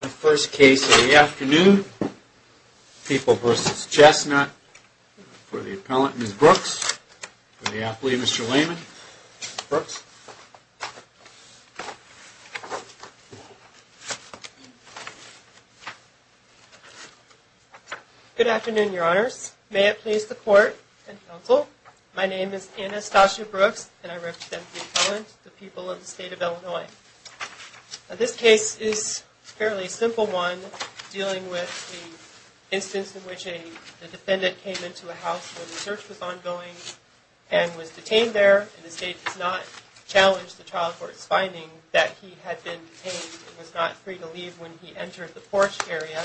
The first case of the afternoon, People v. Chestnut, for the appellant, Ms. Brooks, for the athlete, Mr. Lehman. Ms. Brooks. Good afternoon, your honors. May it please the court and counsel, my name is Anastasia Brooks, and I represent the appellant, the people of the state of Illinois. This case is a fairly simple one, dealing with the instance in which a defendant came into a house where the search was ongoing, and was detained there, and the state does not challenge the trial court's finding that he had been detained and was not free to leave when he entered the porch area,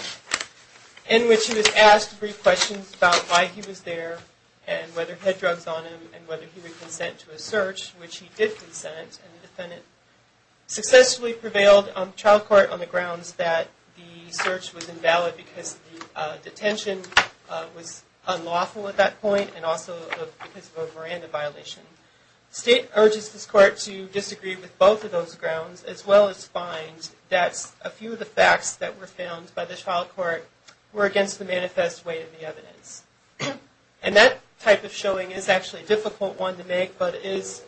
in which he was asked three questions about why he was there, and whether he had drugs on him, and whether he would consent to a search, which he did consent, and the defendant successfully prevailed on the trial court on the grounds that the search was invalid because the detention was unlawful at that point, and also because of a Miranda violation. The state urges this court to disagree with both of those grounds, as well as find that a few of the facts that were found by the trial court were against the manifest way of the evidence. And that type of showing is actually a difficult one to make, but it is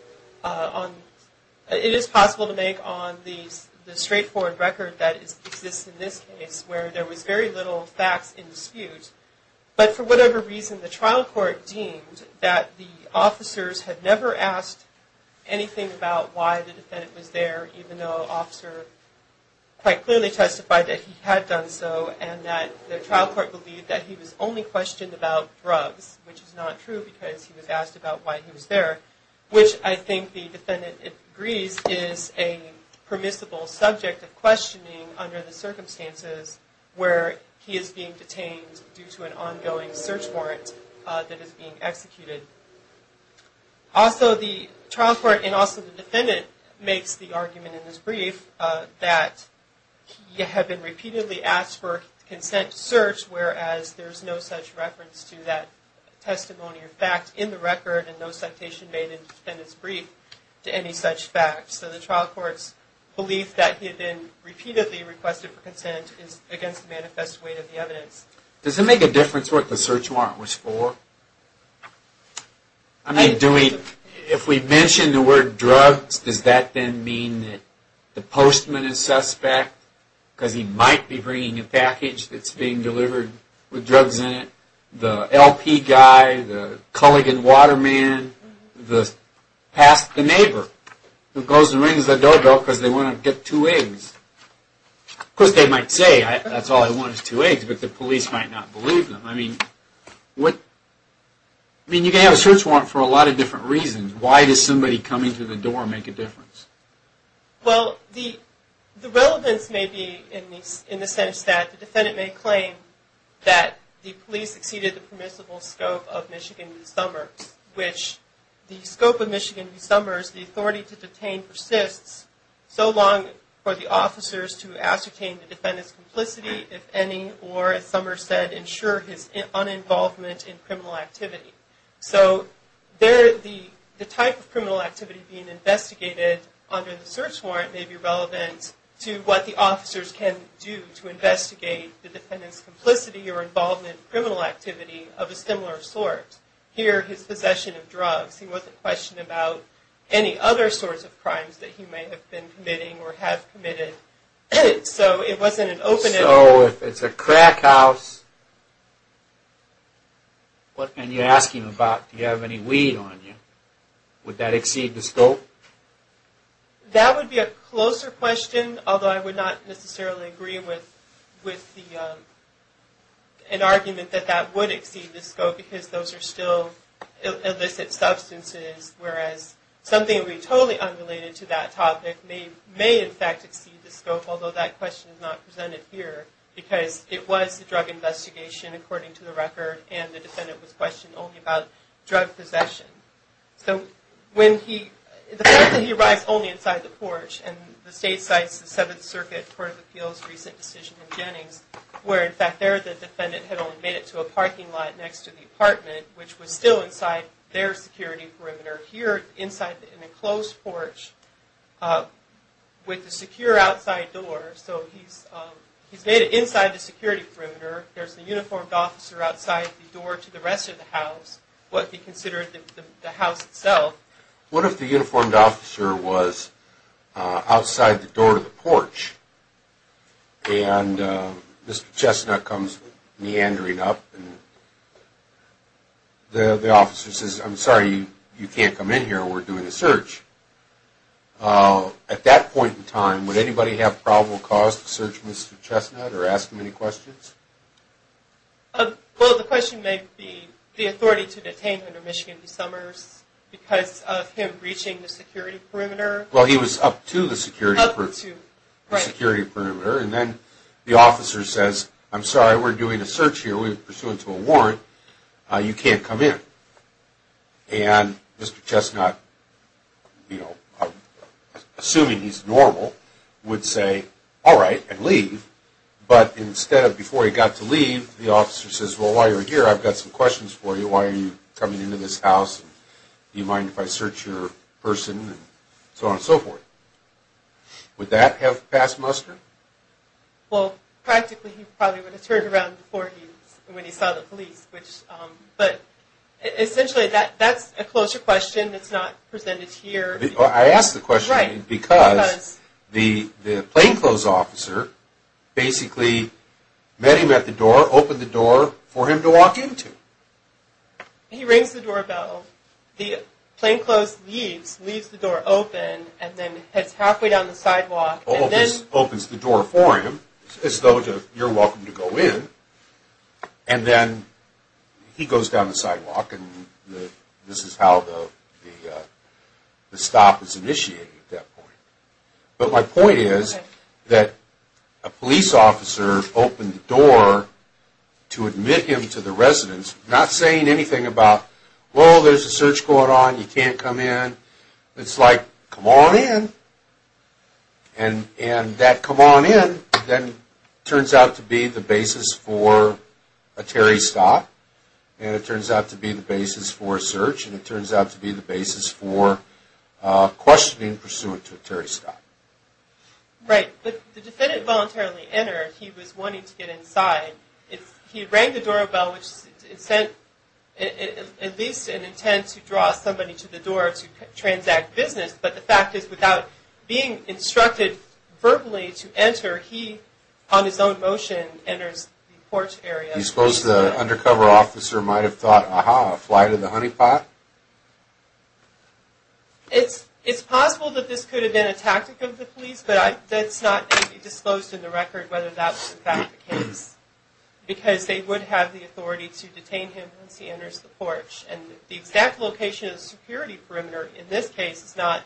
possible to make on the straightforward record that exists in this case, where there was very little facts in dispute, but for whatever reason, the trial court deemed that the officers had never asked anything about why the defendant was there, even though an officer quite clearly testified that he had done so, and that the trial court believed that he was only questioned about drugs, which is not true because he was asked about why he was there, which I think the defendant agrees is a permissible subject of questioning under the circumstances where he is being detained due to an ongoing search warrant that is being executed. Also, the trial court, and also the defendant, makes the argument in this brief that he had been repeatedly asked for a consent search, whereas there is no such reference to that testimony or fact in the record, and no citation made in the defendant's brief to any such fact. So the trial court's belief that he had been repeatedly requested for consent is against the manifest way of the evidence. Does it make a difference what the search warrant was for? I mean, if we mention the word drugs, does that then mean that the postman is suspect? Because he might be bringing a package that's being delivered with drugs in it, the LP guy, the Culligan water man, the past the neighbor, who goes and rings the doorbell because they want to get two eggs. Of course, they might say, that's all I want is two eggs, but the police might not believe them. I mean, you can have a search warrant for a lot of different reasons. Why does somebody coming to the door make a difference? Well, the relevance may be in the sense that the defendant may claim that the police exceeded the permissible scope of Michigan v. Summers, which the scope of Michigan v. Summers, the authority to detain persists so long for the officers to ascertain the defendant's complicity, if any, or, as Summers said, to ensure his uninvolvement in criminal activity. So, the type of criminal activity being investigated under the search warrant may be relevant to what the officers can do to investigate the defendant's complicity or involvement in criminal activity of a similar sort. Here, his possession of drugs, he wasn't questioning about any other sorts of crimes that he may have been committing or have committed. So, it wasn't an open-ended... So, if it's a crack house, what are you asking about? Do you have any weed on you? Would that exceed the scope? That would be a closer question, although I would not necessarily agree with an argument that that would exceed the scope, because those are still illicit because it was a drug investigation, according to the record, and the defendant was questioned only about drug possession. So, when he... The fact that he arrives only inside the porch, and the state cites the Seventh Circuit Court of Appeals' recent decision in Jennings, where, in fact, there, the defendant had only made it to a parking lot next to the apartment, which was still inside their security perimeter. Here, inside an enclosed porch, with a secure outside door. So, he's made it inside the security perimeter. There's a uniformed officer outside the door to the rest of the house, what he considered the house itself. What if the uniformed officer was outside the door to the porch, and Mr. Chestnut comes meandering up, and the officer says, I'm sorry, you can't come in here, we're doing a search. At that point in time, would anybody have probable cause to search Mr. Chestnut, or ask him any questions? Well, the question may be, the authority to detain him in Michigan DeSommers, because of him breaching the security perimeter. Well, he was up to the security perimeter, and then the officer says, I'm sorry, we're doing a search here, we're pursuant to a warrant, you can't come in. And Mr. Chestnut, assuming he's normal, would say, alright, and leave, but instead of before he got to leave, the officer says, well, while you're here, I've got some questions for you, why are you coming into this house, do you mind if I search your person, and so on and so forth. Would that have passed muster? Well, practically, he probably would have turned around before he, when he saw the police, but essentially, that's a closer question, it's not presented here. I ask the question because the plainclothes officer basically met him at the door, opened the door for him to walk into. He rings the doorbell, the plainclothes leaves, leaves the door open, and then heads halfway down the sidewalk. Opens the door for him, as though you're welcome to go in, and then he goes down the sidewalk, and this is how the stop is initiated at that point. But my point is that a police officer opened the door to admit him to the residence, not saying anything about, well, there's a search going on, you can't come in. It's like, come on in, and that come on in then turns out to be the basis for a Terry stop, and it turns out to be the basis for a search, and it turns out to be the basis for questioning pursuant to a Terry stop. Right, but the defendant voluntarily entered, he was wanting to get inside. He rang the doorbell, which is at least an intent to draw somebody to the door to transact business, but the fact is, without being instructed verbally to enter, he, on his own motion, enters the porch area. Do you suppose the undercover officer might have thought, aha, fly to the honeypot? It's possible that this could have been a tactic of the police, but that's not to be disclosed in the record whether that was in fact the case, because they would have the authority to detain him once he enters the porch, and the exact location of the security perimeter in this case is not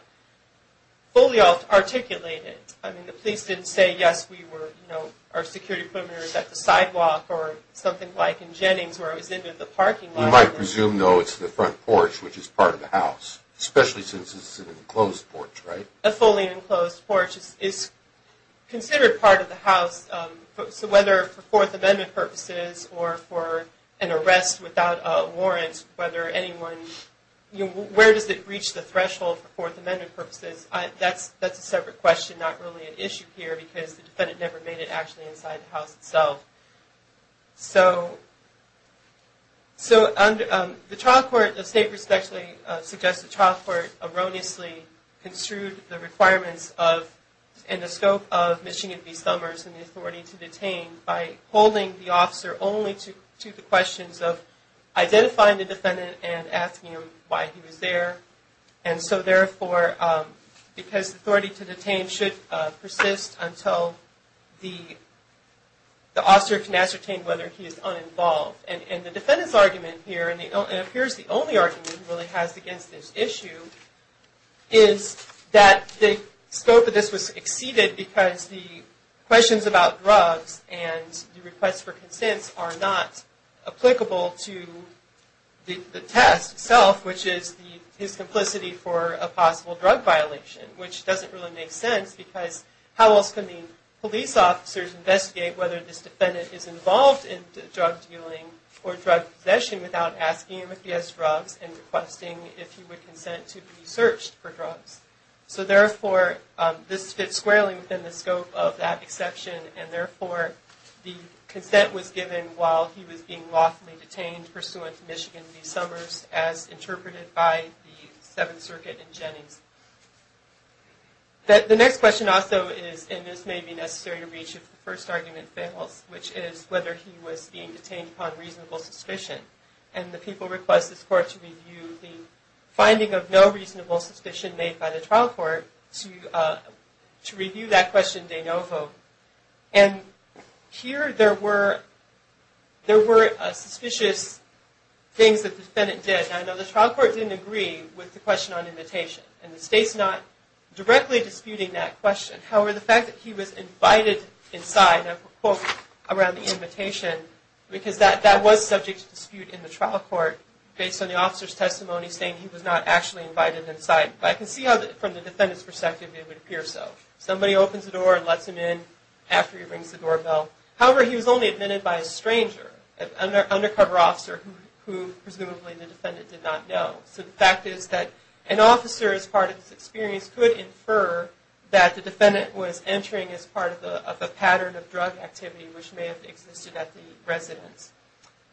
fully articulated. I mean, the police didn't say, yes, we were, you know, our security perimeter is at the sidewalk or something like in Jennings where it was in the parking lot. We might presume, though, it's the front porch, which is part of the house, especially since it's an enclosed porch, right? A fully enclosed porch is considered part of the house, so whether for Fourth Amendment purposes or for an arrest without a warrant, whether anyone, you know, where does it reach the threshold for Fourth Amendment purposes, that's a separate question, not really an issue here, because the defendant never made it actually inside the house itself. So, the trial court, the state perspective suggests the trial court erroneously construed the requirements and the scope of Michigan v. Summers and the authority to detain by holding the officer only to the questions of identifying the defendant and asking him why he was there, and so, therefore, because the authority to detain should persist until the officer can ascertain whether he is uninvolved. And the defendant's argument here, and it appears the only argument he really has against this issue, is that the scope of this was exceeded because the questions about drugs and the request for consents are not applicable to the test itself, which is his complicity for a possible drug violation, which doesn't really make sense because how else can the police officers investigate whether this defendant is involved in drug dealing or drug possession without asking him if he has drugs and requesting if he would consent to be searched for drugs. So, therefore, this fits squarely within the scope of that exception and, therefore, the consent was given while he was being lawfully detained pursuant to Michigan v. Summers as interpreted by the Seventh Circuit in Jennings. The next question also is, and this may be necessary to reach if the first argument fails, which is whether he was being detained upon reasonable suspicion. And the people request this court to review the finding of no reasonable suspicion made by the trial court to review that question de novo. And here there were suspicious things that the defendant did. Now, I know the trial court didn't agree with the question on invitation, and the state's not directly disputing that question. However, the fact that he was invited inside, and I put a quote around the invitation, because that was subject to dispute in the trial court based on the officer's testimony saying he was not actually invited inside. But I can see how from the defendant's perspective it would appear so. Somebody opens the door and lets him in after he rings the doorbell. However, he was only admitted by a stranger, an undercover officer who presumably the defendant did not know. So the fact is that an officer, as part of this experience, could infer that the defendant was entering as part of a pattern of drug activity which may have existed at the residence.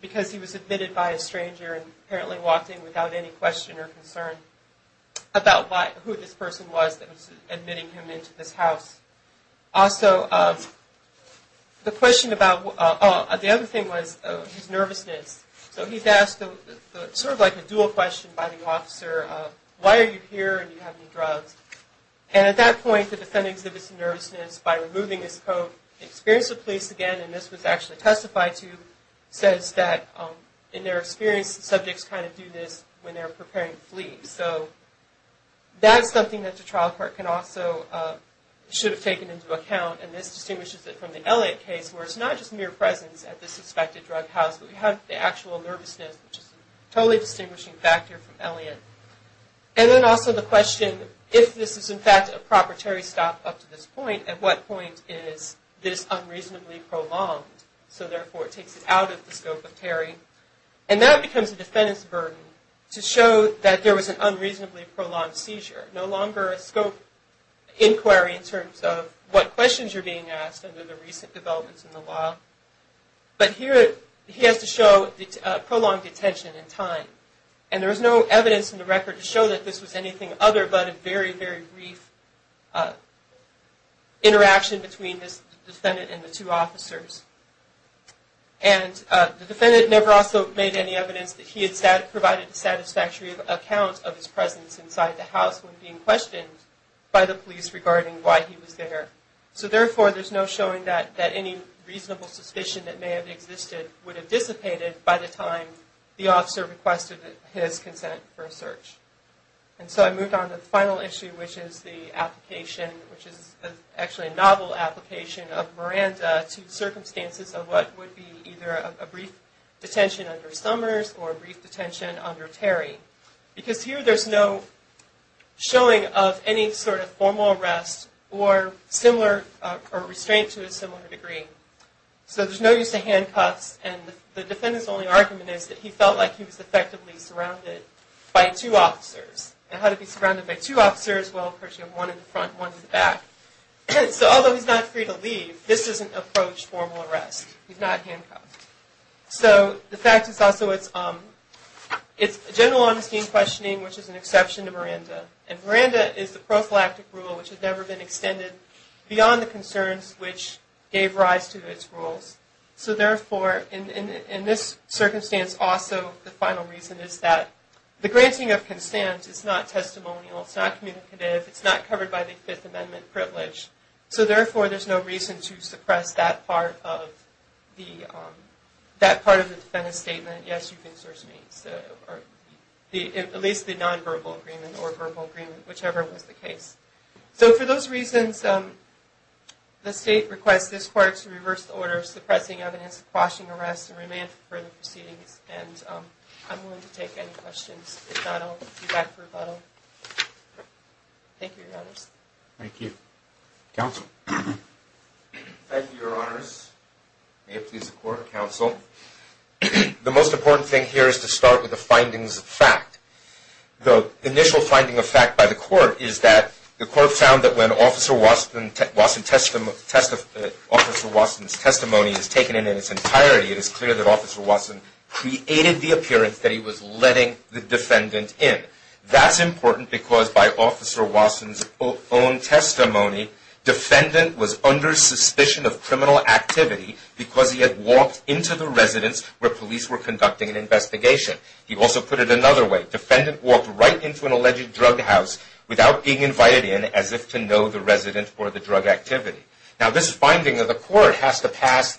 Because he was admitted by a stranger and apparently walked in without any question or concern about who this person was that was admitting him into this house. Also, the other thing was his nervousness. So he's asked sort of like a dual question by the officer, why are you here and do you have any drugs? And at that point the defendant exhibits nervousness by removing his coat. They experience the police again, and this was actually testified to, says that in their experience subjects kind of do this when they're preparing to flee. So that's something that the trial court can also, should have taken into account. And this distinguishes it from the Elliott case where it's not just mere presence at the suspected drug house, but we have the actual nervousness which is a totally distinguishing factor from Elliott. And then also the question, if this is in fact a proper Terry stop up to this point, at what point is this unreasonably prolonged? So therefore it takes it out of the scope of Terry. And that becomes a defendant's burden to show that there was an unreasonably prolonged seizure. No longer a scope inquiry in terms of what questions are being asked under the recent developments in the law. But here he has to show prolonged detention in time. And there is no evidence in the record to show that this was anything other but a very, very brief interaction between this defendant and the two officers. And the defendant never also made any evidence that he had provided a satisfactory account of his presence inside the house when being questioned by the police regarding why he was there. So therefore there's no showing that any reasonable suspicion that may have existed would have dissipated by the time the officer requested his consent for a search. And so I moved on to the final issue which is the application, which is actually a novel application of Miranda to circumstances of what would be either a brief detention under Summers or a brief detention under Terry. Because here there's no showing of any sort of formal arrest or similar, or restraint to a similar degree. So there's no use of handcuffs and the defendant's only argument is that he felt like he was effectively surrounded by two officers. And how did he be surrounded by two officers? Well, of course you have one in the front and one in the back. So although he's not free to leave, this is an approached formal arrest. He's not handcuffed. So the fact is also it's general honesty and questioning which is an exception to Miranda. And Miranda is the prophylactic rule which has never been extended beyond the concerns which gave rise to its rules. So therefore in this circumstance also the final reason is that the granting of consent is not testimonial, it's not communicative, it's not covered by the Fifth Amendment privilege. So therefore there's no reason to suppress that part of the defendant's statement. Yes, you can search me. At least the non-verbal agreement or verbal agreement, whichever was the case. So for those reasons the state requests this court to reverse the order of suppressing evidence, quashing arrests, and remand for further proceedings. And I'm willing to take any questions. If not, I'll be back for rebuttal. Thank you, Your Honors. Thank you. Counsel. Thank you, Your Honors. May it please the court, counsel. The most important thing here is to start with the findings of fact. The initial finding of fact by the court is that the court found that when Officer Watson's testimony is taken in its entirety, it is clear that Officer Watson created the appearance that he was letting the defendant in. That's important because by Officer Watson's own testimony, defendant was under suspicion of criminal activity because he had walked into the residence where police were conducting an investigation. He also put it another way. Defendant walked right into an alleged drug house without being invited in as if to know the resident or the drug activity. Now this finding of the court has to pass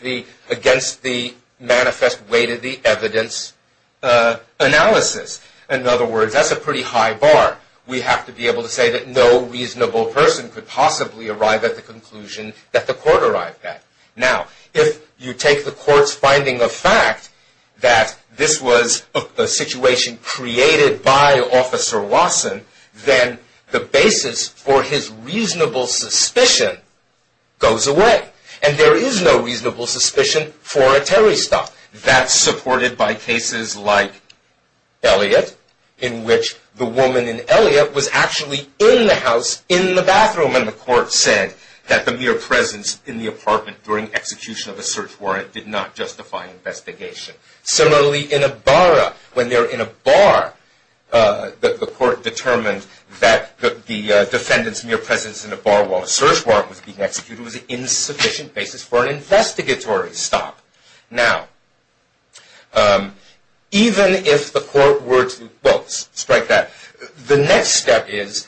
against the manifest way to the evidence analysis. In other words, that's a pretty high bar. We have to be able to say that no reasonable person could possibly arrive at the conclusion that the court arrived at. Now, if you take the court's finding of fact that this was a situation created by Officer Watson, then the basis for his reasonable suspicion goes away. And there is no reasonable suspicion for a terrorist act. That's supported by cases like Elliot, in which the woman in Elliot was actually in the house, in the bathroom, and the court said that the mere presence in the apartment during execution of a search warrant did not justify investigation. Similarly, in a barra, when they're in a bar, the court determined that the defendant's mere presence in a bar while a search warrant was being executed was an insufficient basis for an investigatory stop. Now, even if the court were to strike that, the next step is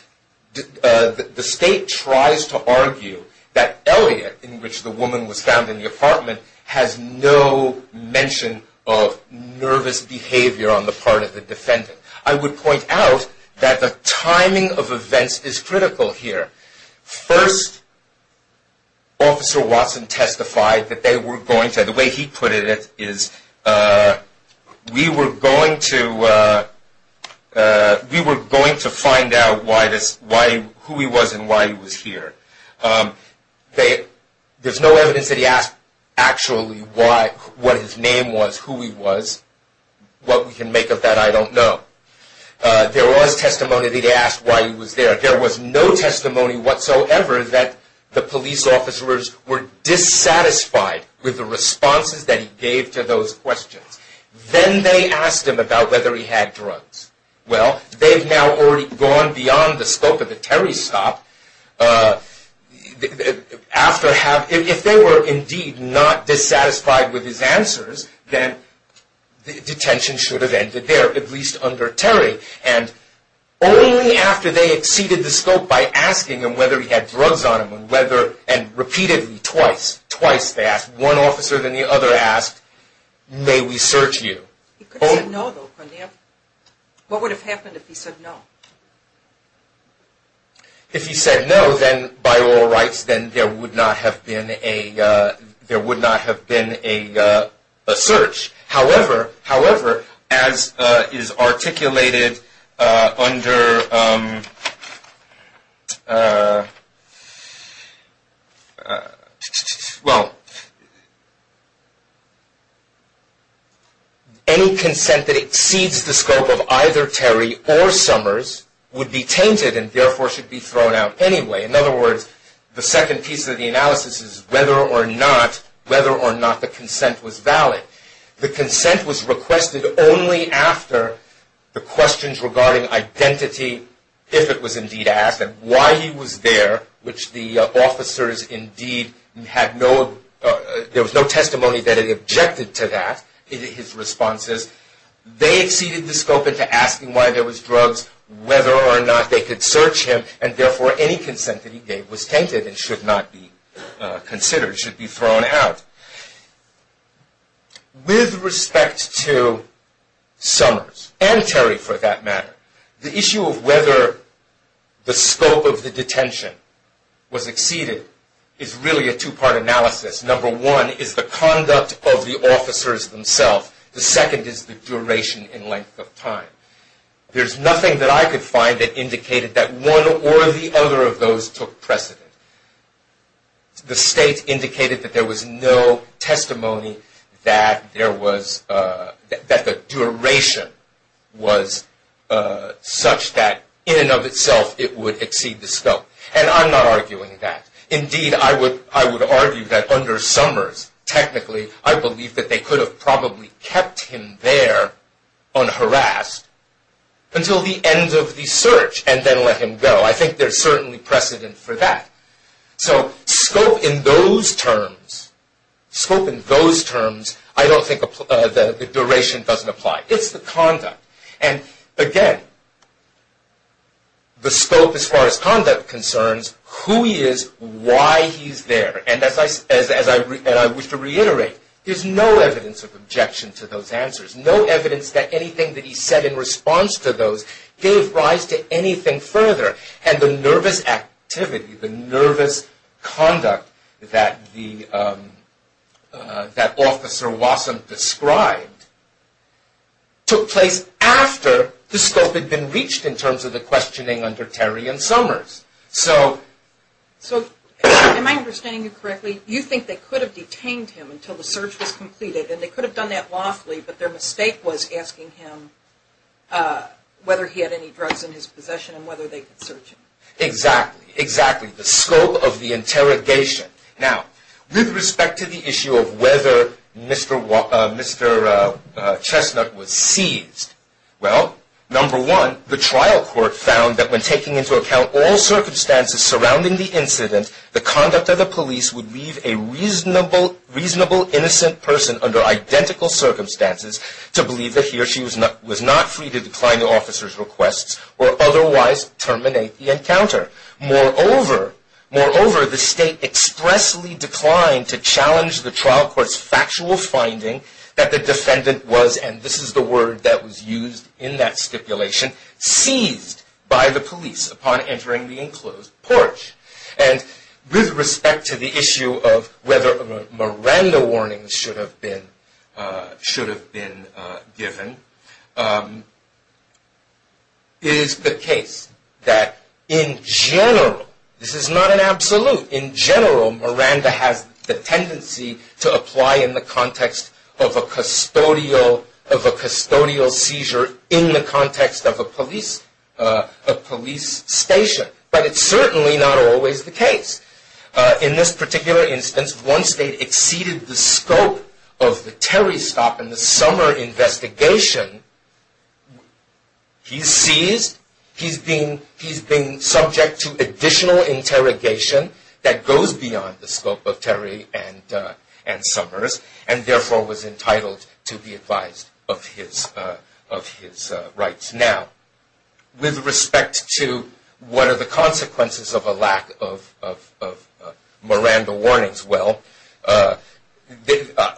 the state tries to argue that Elliot, in which the woman was found in the apartment, has no mention of nervous behavior on the part of the defendant. I would point out that the timing of events is critical here. First, Officer Watson testified that they were going to, the way he put it is, we were going to find out who he was and why he was here. There's no evidence that he asked actually what his name was, who he was. What we can make of that, I don't know. There was testimony that he asked why he was there. There was no testimony whatsoever that the police officers were dissatisfied with the responses that he gave to those questions. Then they asked him about whether he had drugs. Well, they've now already gone beyond the scope of the Terry stop. If they were indeed not dissatisfied with his answers, then detention should have ended there, at least under Terry. Only after they exceeded the scope by asking him whether he had drugs on him, and repeatedly, twice, twice they asked, one officer then the other asked, may we search you? He could have said no though, couldn't he have? What would have happened if he said no? If he said no, then by oral rights, then there would not have been a search. However, however, as is articulated under, well, any consent that exceeds the scope of either Terry or Summers would be tainted and therefore should be thrown out anyway. In other words, the second piece of the analysis is whether or not, whether or not the consent was valid. The consent was requested only after the questions regarding identity, if it was indeed asked, and why he was there, which the officers indeed had no, there was no testimony that it objected to that, his responses. They exceeded the scope into asking why there was drugs, whether or not they could search him, and therefore any consent that he gave was tainted and should not be considered, should be thrown out. With respect to Summers, and Terry for that matter, the issue of whether the scope of the detention was exceeded is really a two-part analysis. Number one is the conduct of the officers themselves. The second is the duration and length of time. There's nothing that I could find that indicated that one or the other of those took precedent. The state indicated that there was no testimony that there was, that the duration was such that in and of itself it would exceed the scope. And I'm not arguing that. Indeed, I would argue that under Summers, technically, I believe that they could have probably kept him there unharassed until the end of the search, and then let him go. I think there's certainly precedent for that. So scope in those terms, scope in those terms, I don't think the duration doesn't apply. It's the conduct. And again, the scope as far as conduct concerns, who he is, why he's there. And as I wish to reiterate, there's no evidence of objection to those answers. No evidence that anything that he said in response to those gave rise to anything further. And the nervous activity, the nervous conduct that Officer Wasson described took place after the scope had been reached in terms of the questioning under Terry and Summers. So am I understanding you correctly? You think they could have detained him until the search was completed and they could have done that lawfully, but their mistake was asking him whether he had any drugs in his possession and whether they could search him. Exactly, exactly. The scope of the interrogation. Now, with respect to the issue of whether Mr. Chestnut was seized, well, number one, the trial court found that when taking into account all circumstances surrounding the incident, the conduct of the police would leave a reasonable, innocent person under identical circumstances to believe that he or she was not free to decline the officer's requests or otherwise terminate the encounter. Moreover, the state expressly declined to challenge the trial court's factual finding that the defendant was, and this is the word that was used in that stipulation, seized by the police upon entering the enclosed porch. And with respect to the issue of whether Miranda warnings should have been given, it is the case that in general, this is not an absolute, in general, Miranda has the tendency to apply in the context of a custodial seizure in the context of a police station. But it's certainly not always the case. In this particular instance, once they exceeded the scope of the Terry stop and the summer investigation, he's seized, he's been subject to additional interrogation that goes beyond the scope of Terry and Summers and therefore was entitled to be advised of his rights. Now, with respect to what are the consequences of a lack of Miranda warnings, well,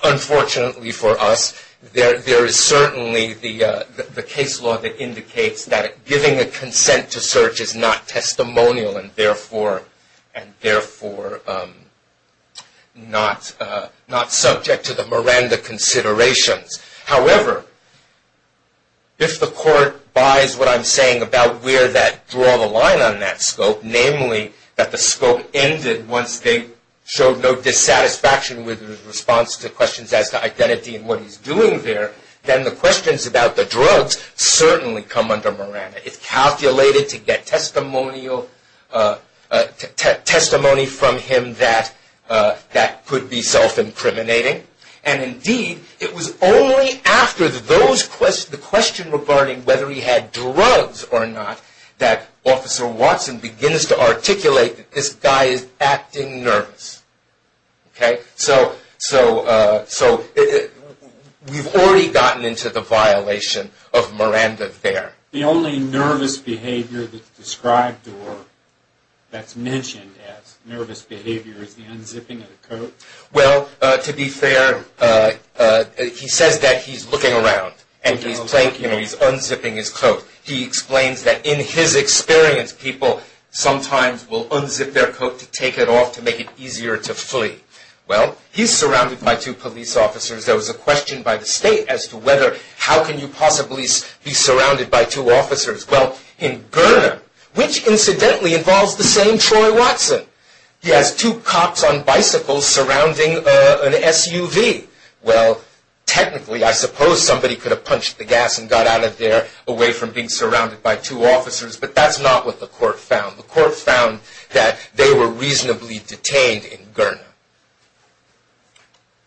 unfortunately for us, there is certainly the case law that indicates that giving a consent to search is not testimonial and therefore not subject to the Miranda considerations. However, if the court buys what I'm saying about where that draw the line on that scope, namely that the scope ended once they showed no dissatisfaction with his response to questions as to identity and what he's doing there, then the questions about the drugs certainly come under Miranda. It's calculated to get testimony from him that could be self-incriminating. And indeed, it was only after the question regarding whether he had drugs or not that Officer Watson begins to articulate that this guy is acting nervous. Okay? So, we've already gotten into the violation of Miranda there. The only nervous behavior that's described or that's mentioned as nervous behavior is the unzipping of the coat? Well, to be fair, he says that he's looking around and he's unzipping his coat. He explains that in his experience, people sometimes will unzip their coat to take it off to make it easier to flee. Well, he's surrounded by two police officers. There was a question by the state as to whether, how can you possibly be surrounded by two officers? Well, in Gurna, which incidentally involves the same Troy Watson, he has two cops on bicycles surrounding an SUV. Well, technically, I suppose somebody could have punched the gas and got out of there away from being surrounded by two officers, but that's not what the court found. The court found that they were reasonably detained in Gurna.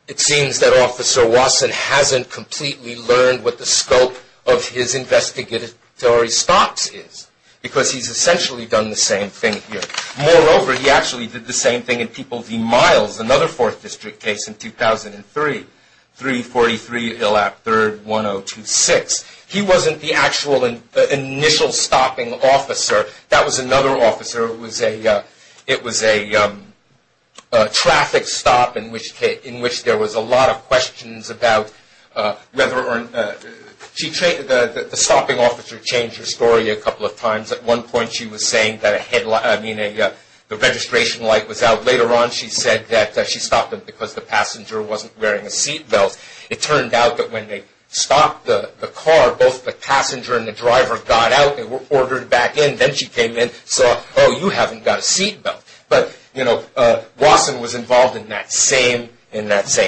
It seems that Officer Watson hasn't completely learned what the scope of his investigatory stops is because he's essentially done the same thing here. Moreover, he actually did the same thing in People v. Miles, another 4th District case in 2003, 343 Illap 3rd 1026. He wasn't the actual initial stopping officer. That was another officer. It was a traffic stop in which there was a lot of questions about whether or not... The stopping officer changed her story a couple of times. At one point, she was saying that the registration light was out. Later on, she said that she stopped them because the passenger wasn't wearing a seat belt. It turned out that when they stopped the car, both the passenger and the driver got out. They were ordered back in. Then she came in and saw, oh, you haven't got a seat belt. But, you know, Watson was involved in that same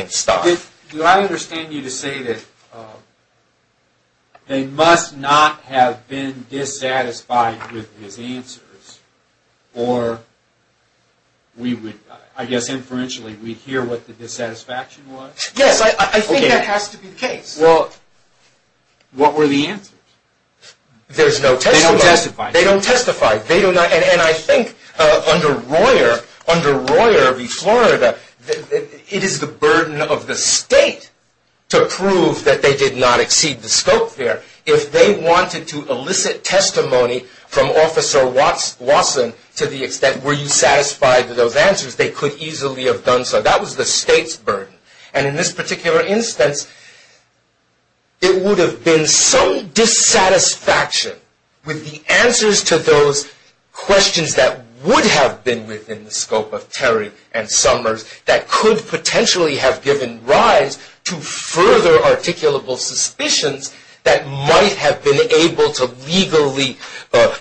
stop. Do I understand you to say that they must not have been dissatisfied with his answers or we would, I guess inferentially, we'd hear what the dissatisfaction was? Yes, I think that has to be the case. Well, what were the answers? There's no testimony. They don't testify. They don't testify. And I think under Royer v. Florida, it is the burden of the state to prove that they did not exceed the scope there. If they wanted to elicit testimony from Officer Watson to the extent were you satisfied with those answers, they could easily have done so. That was the state's burden. And in this particular instance, it would have been some dissatisfaction with the answers to those questions that would have been within the scope of Terry and Summers that could potentially have given rise to further articulable suspicions that might have been able to legally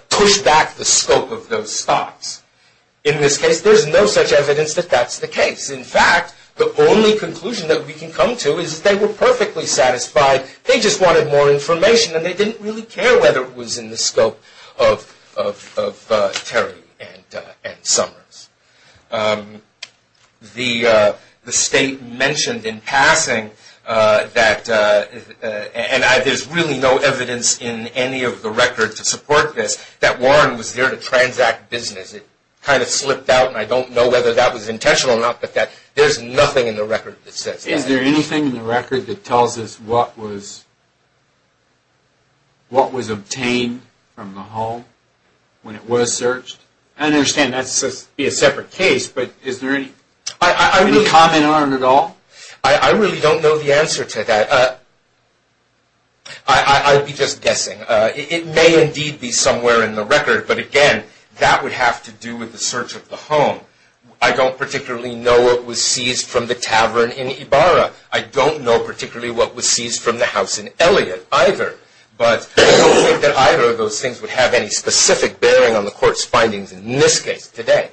push back the scope of those stops. In this case, there's no such evidence that that's the case. In fact, the only conclusion that we can come to is that they were perfectly satisfied. They just wanted more information and they didn't really care whether it was in the scope of Terry and Summers. The state mentioned in passing that, and there's really no evidence in any of the records to support this, that Warren was there to transact business. It kind of slipped out and I don't know whether that was intentional or not, but there's nothing in the record that says that. Is there anything in the record that tells us what was obtained from the home when it was searched? I understand that's a separate case, but is there any comment on it at all? I really don't know the answer to that. I would be just guessing. It may indeed be somewhere in the record, but again, that would have to do with the search of the home. I don't particularly know what was seized from the tavern in Ibarra. I don't know particularly what was seized from the house in Elliott either, but I don't think that either of those things would have any specific bearing on the court's findings in this case today.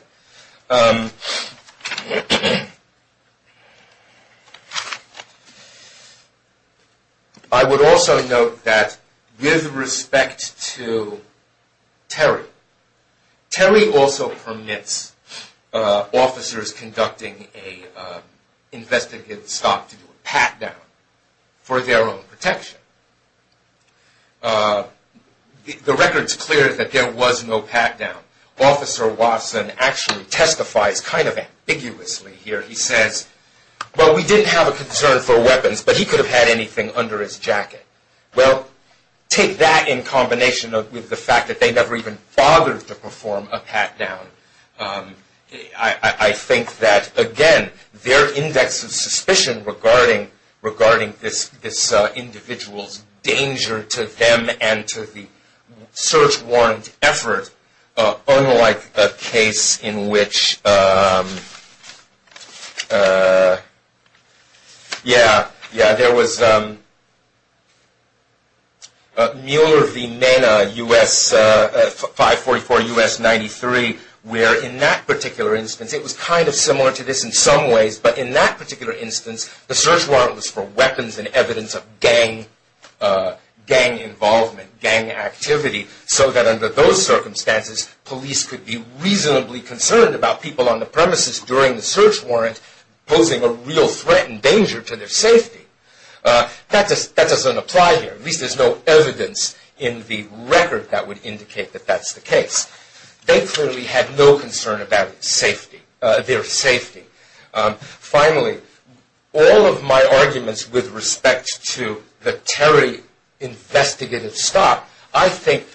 I would also note that with respect to Terry, Terry also permits officers conducting an investigative stop to do a pat-down for their own protection. The record's clear that there was no pat-down. Officer Watson actually testifies kind of ambiguously here. He says, well, we didn't have a concern for weapons, but he could have had anything under his jacket. Well, take that in combination with the fact that they never even bothered to perform a pat-down. I think that, again, their index of suspicion regarding this individual's danger to them and to the search warrant effort, unlike a case in which there was Mueller v. Mena, 544 U.S. 93, where in that particular instance, it was kind of similar to this in some ways, but in that particular instance, the search warrant was for weapons and evidence of gang involvement, gang activity, so that under those circumstances, police could be reasonably concerned about people on the premises during the search warrant posing a real threat and danger to their safety. That doesn't apply here. At least there's no evidence in the record that would indicate that that's the case. They clearly had no concern about safety, their safety. Finally, all of my arguments with respect to the Terry investigative stop, I think,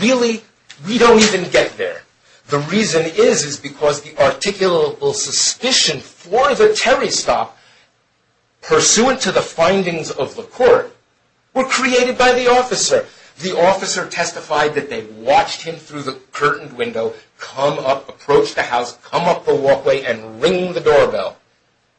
really, we don't even get there. The reason is, is because the articulable suspicion for the Terry stop, pursuant to the findings of the court, were created by the officer. The officer testified that they watched him through the curtained window, come up, approach the house, come up the walkway, and ring the doorbell.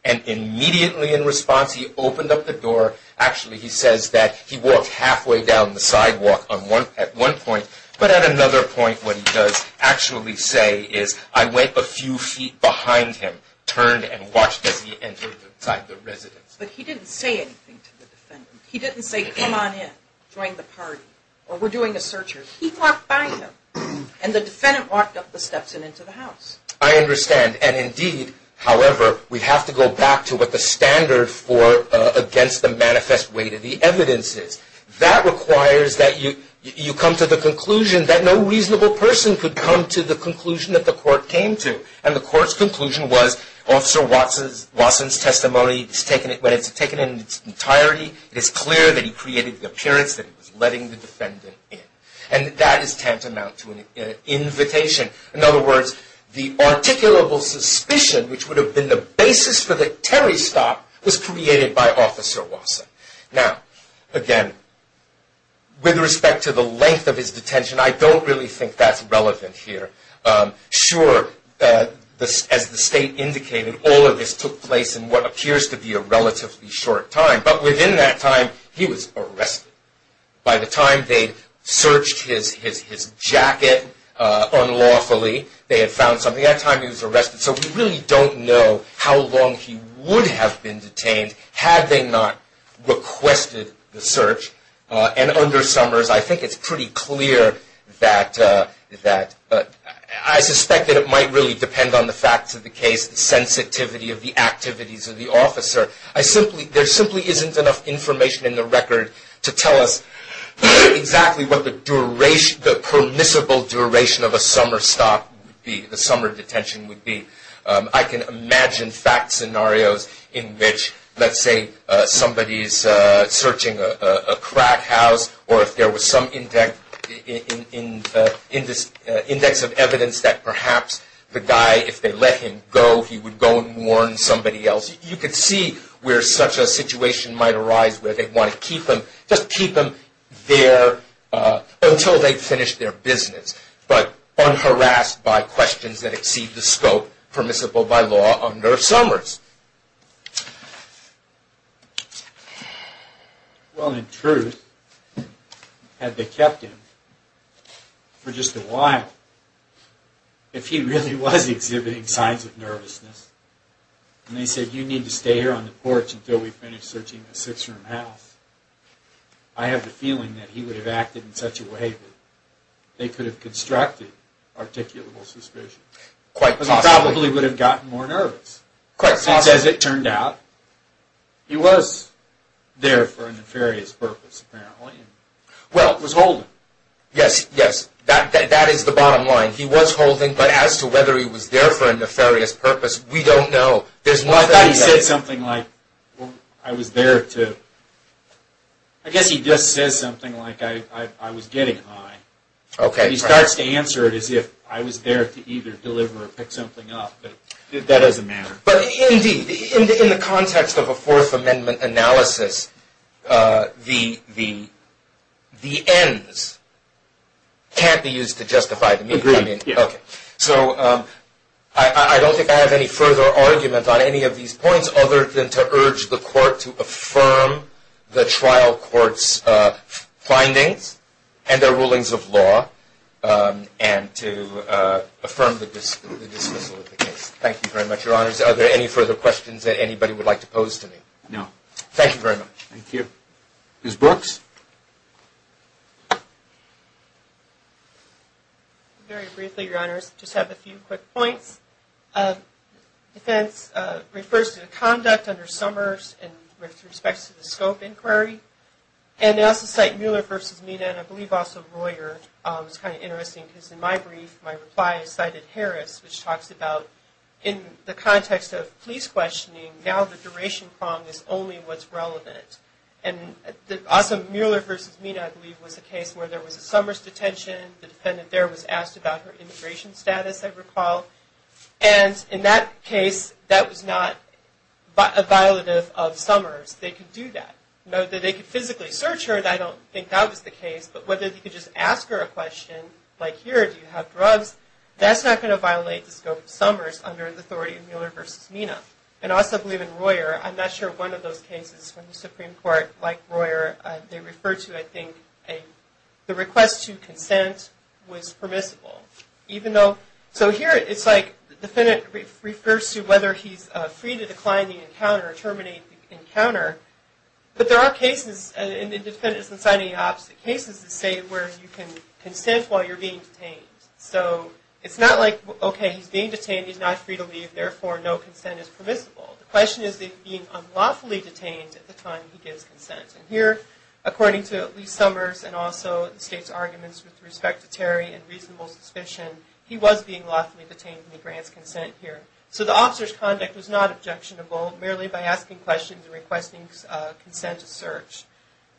And immediately in response, he opened up the door. Actually, he says that he walked halfway down the sidewalk at one point. But at another point, what he does actually say is, I went a few feet behind him, turned and watched as he entered inside the residence. But he didn't say anything to the defendant. He didn't say, come on in, join the party, or we're doing a search here. He walked by him. And the defendant walked up the steps and into the house. I understand. And indeed, however, we have to go back to what the standard for against the manifest weight of the evidence is. That requires that you come to the conclusion that no reasonable person could come to the conclusion that the court came to. And the court's conclusion was, Officer Watson's testimony, when it's taken in its entirety, it is clear that he created the appearance that he was letting the defendant in. And that is tantamount to an invitation. In other words, the articulable suspicion, which would have been the basis for the Terry stop, was created by Officer Watson. Now, again, with respect to the length of his detention, I don't really think that's relevant here. Sure, as the state indicated, all of this took place in what appears to be a relatively short time. But within that time, he was arrested. By the time they searched his jacket unlawfully, they had found something. By that time, he was arrested. So we really don't know how long he would have been detained had they not requested the search. And under Summers, I think it's pretty clear that I suspect that it might really depend on the facts of the case, the sensitivity of the activities of the officer. There simply isn't enough information in the record to tell us exactly what the permissible duration of a summer stop would be, the summer detention would be. I can imagine fact scenarios in which, let's say, somebody is searching a crack house, or if there was some index of evidence that perhaps the guy, if they let him go, he would go and warn somebody else. You could see where such a situation might arise where they'd want to keep him, just keep him there until they'd finished their business, but unharassed by questions that exceed the scope permissible by law under Summers. Well, in truth, had they kept him for just a while, if he really was exhibiting signs of nervousness, and they said, you need to stay here on the porch until we finish searching the six-room house, I have a feeling that he would have acted in such a way that they could have constructed articulable suspicion. Quite possibly. He probably would have gotten more nervous. Quite possibly. Since, as it turned out, he was there for a nefarious purpose, apparently. Well, it was Holden. Yes, yes, that is the bottom line. He was Holden, but as to whether he was there for a nefarious purpose, we don't know. I thought he said something like, I was there to... I guess he just says something like, I was getting high. He starts to answer it as if I was there to either deliver or pick something up, but that doesn't matter. But indeed, in the context of a Fourth Amendment analysis, the ends can't be used to justify the means. Agreed. So, I don't think I have any further argument on any of these points other than to urge the court to affirm the trial court's findings and their rulings of law, and to affirm the dismissal of the case. Thank you very much, Your Honors. Are there any further questions that anybody would like to pose to me? No. Thank you very much. Thank you. Ms. Brooks? Very briefly, Your Honors, just have a few quick points. Defense refers to the conduct under Summers with respect to the scope inquiry. And they also cite Mueller v. Mina, and I believe also Royer. It's kind of interesting, because in my brief, my reply is cited Harris, which talks about, in the context of police questioning, now the duration prong is only what's relevant. And also, Mueller v. Mina, I believe, was a case where there was a Summers detention. The defendant there was asked about her immigration status, I recall. And in that case, that was not a violative of Summers. They could do that. Note that they could physically search her. I don't think that was the case. But whether they could just ask her a question, like, here, do you have drugs, that's not going to violate the scope of Summers under the authority of Mueller v. Mina. And I also believe in Royer. I'm not sure one of those cases from the Supreme Court, like Royer, they refer to, I think, the request to consent was permissible. So here, it's like, the defendant refers to whether he's free to decline the encounter, terminate the encounter. But there are cases, and the defendant doesn't cite any opposite cases, that say where you can consent while you're being detained. So it's not like, okay, he's being detained, he's not free to leave, therefore, no consent is permissible. The question is that he's being unlawfully detained at the time he gives consent. And here, according to Lee Summers, and also the state's arguments with respect to Terry and reasonable suspicion, he was being lawfully detained when he grants consent here. So the officer's conduct was not objectionable, merely by asking questions and requesting consent to search.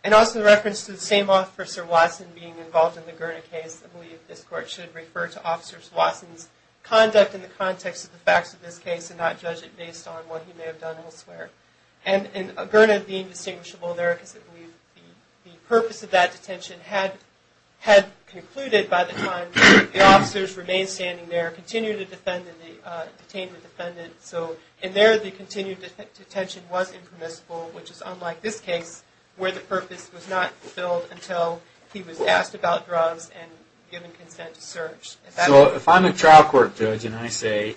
And also in reference to the same officer, Watson, being involved in the Gurna case, I believe this Court should refer to Officer Watson's conduct in the context of the facts of this case, and not judge it based on what he may have done elsewhere. And Gurna being distinguishable there, because I believe the purpose of that detention had concluded by the time the officers remained standing there, continued to detain the defendant. So in there, the continued detention was impermissible, which is unlike this case, where the purpose was not fulfilled until he was asked about drugs and given consent to search. So if I'm a trial court judge and I say,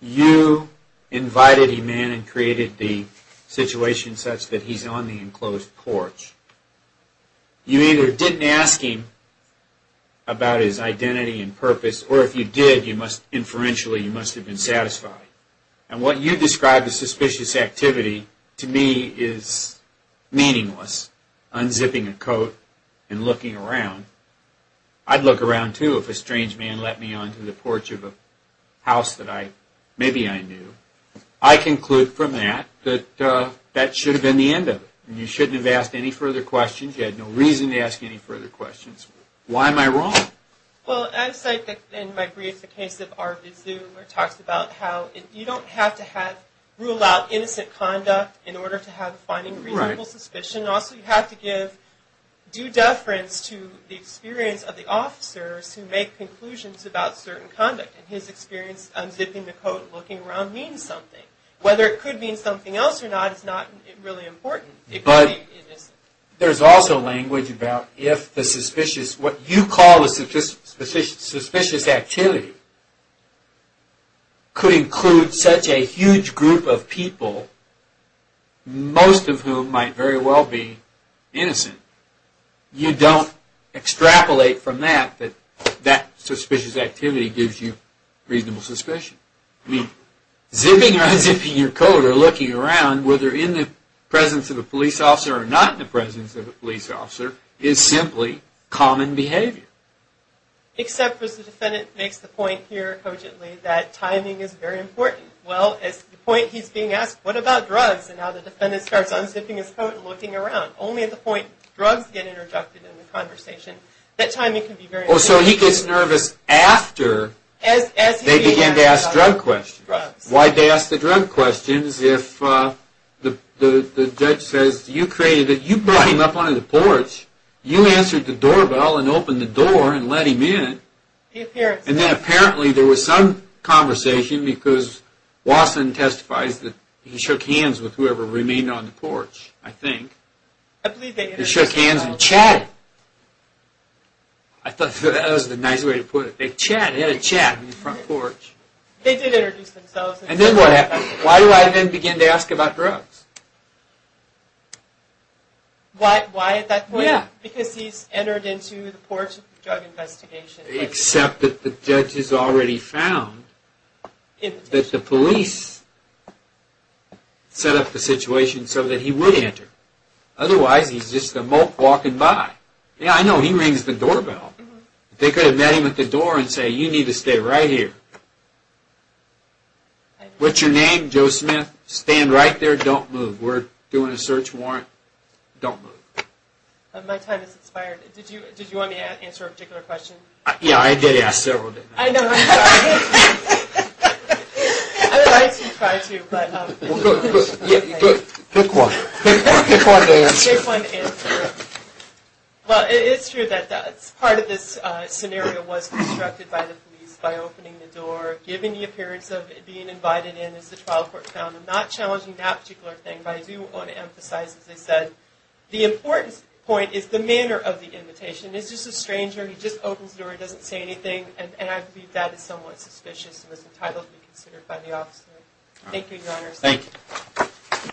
you invited a man and created the situation such that he's on the enclosed porch, you either didn't ask him about his identity and purpose, or if you did, inferentially, you must have been satisfied. And what you describe as suspicious activity, to me, is meaningless. Unzipping a coat and looking around. I'd look around, too, if a strange man let me onto the porch of a house that maybe I knew. I conclude from that, that that should have been the end of it. You shouldn't have asked any further questions. You had no reason to ask any further questions. Why am I wrong? Well, as I said in my brief, the case of R. Vizu, where it talks about how you don't have to rule out innocent conduct in order to have a reasonable suspicion. Also, you have to give due deference to the experience of the officers who make conclusions about certain conduct. And his experience unzipping the coat and looking around means something. Whether it could mean something else or not is not really important. But there's also language about if the suspicious, what you call a suspicious activity, could include such a huge group of people, most of whom might very well be innocent. You don't extrapolate from that, that that suspicious activity gives you reasonable suspicion. I mean, zipping or unzipping your coat or looking around, whether in the presence of a police officer or not in the presence of a police officer, is simply common behavior. Except as the defendant makes the point here cogently, that timing is very important. Well, at the point he's being asked, what about drugs? And now the defendant starts unzipping his coat and looking around. Only at the point drugs get interrupted in the conversation. That timing can be very important. So he gets nervous after they begin to ask drug questions. Why'd they ask the drug questions if the judge says, you brought him up onto the porch, you answered the doorbell and opened the door and let him in. And then apparently there was some conversation because Wasson testifies that he shook hands with whoever remained on the porch, I think. He shook hands and chatted. I thought that was the nice way to put it. They chatted, they had a chat on the front porch. They did introduce themselves. And then what happened? Why do I then begin to ask about drugs? Why at that point? Because he's entered into the porch drug investigation. Except that the judge has already found that the police set up the situation so that he would enter. Otherwise, he's just a mope walking by. Yeah, I know, he rings the doorbell. They could have met him at the door and said, you need to stay right here. What's your name? Joe Smith. Stand right there, don't move. We're doing a search warrant. Don't move. My time has expired. Did you want me to answer a particular question? Yeah, I did ask several. I know. I would like to try to, but... Pick one. Pick one to answer. Pick one to answer. Well, it's true that part of this scenario was constructed by the police by opening the door, giving the appearance of being invited in as the trial court found. I'm not challenging that particular thing, but I do want to emphasize, as I said, the important point is the manner of the invitation. It's just a stranger, he just opens the door, doesn't say anything, and I believe that is somewhat suspicious and is entitled to be considered by the officer. Thank you, Your Honor.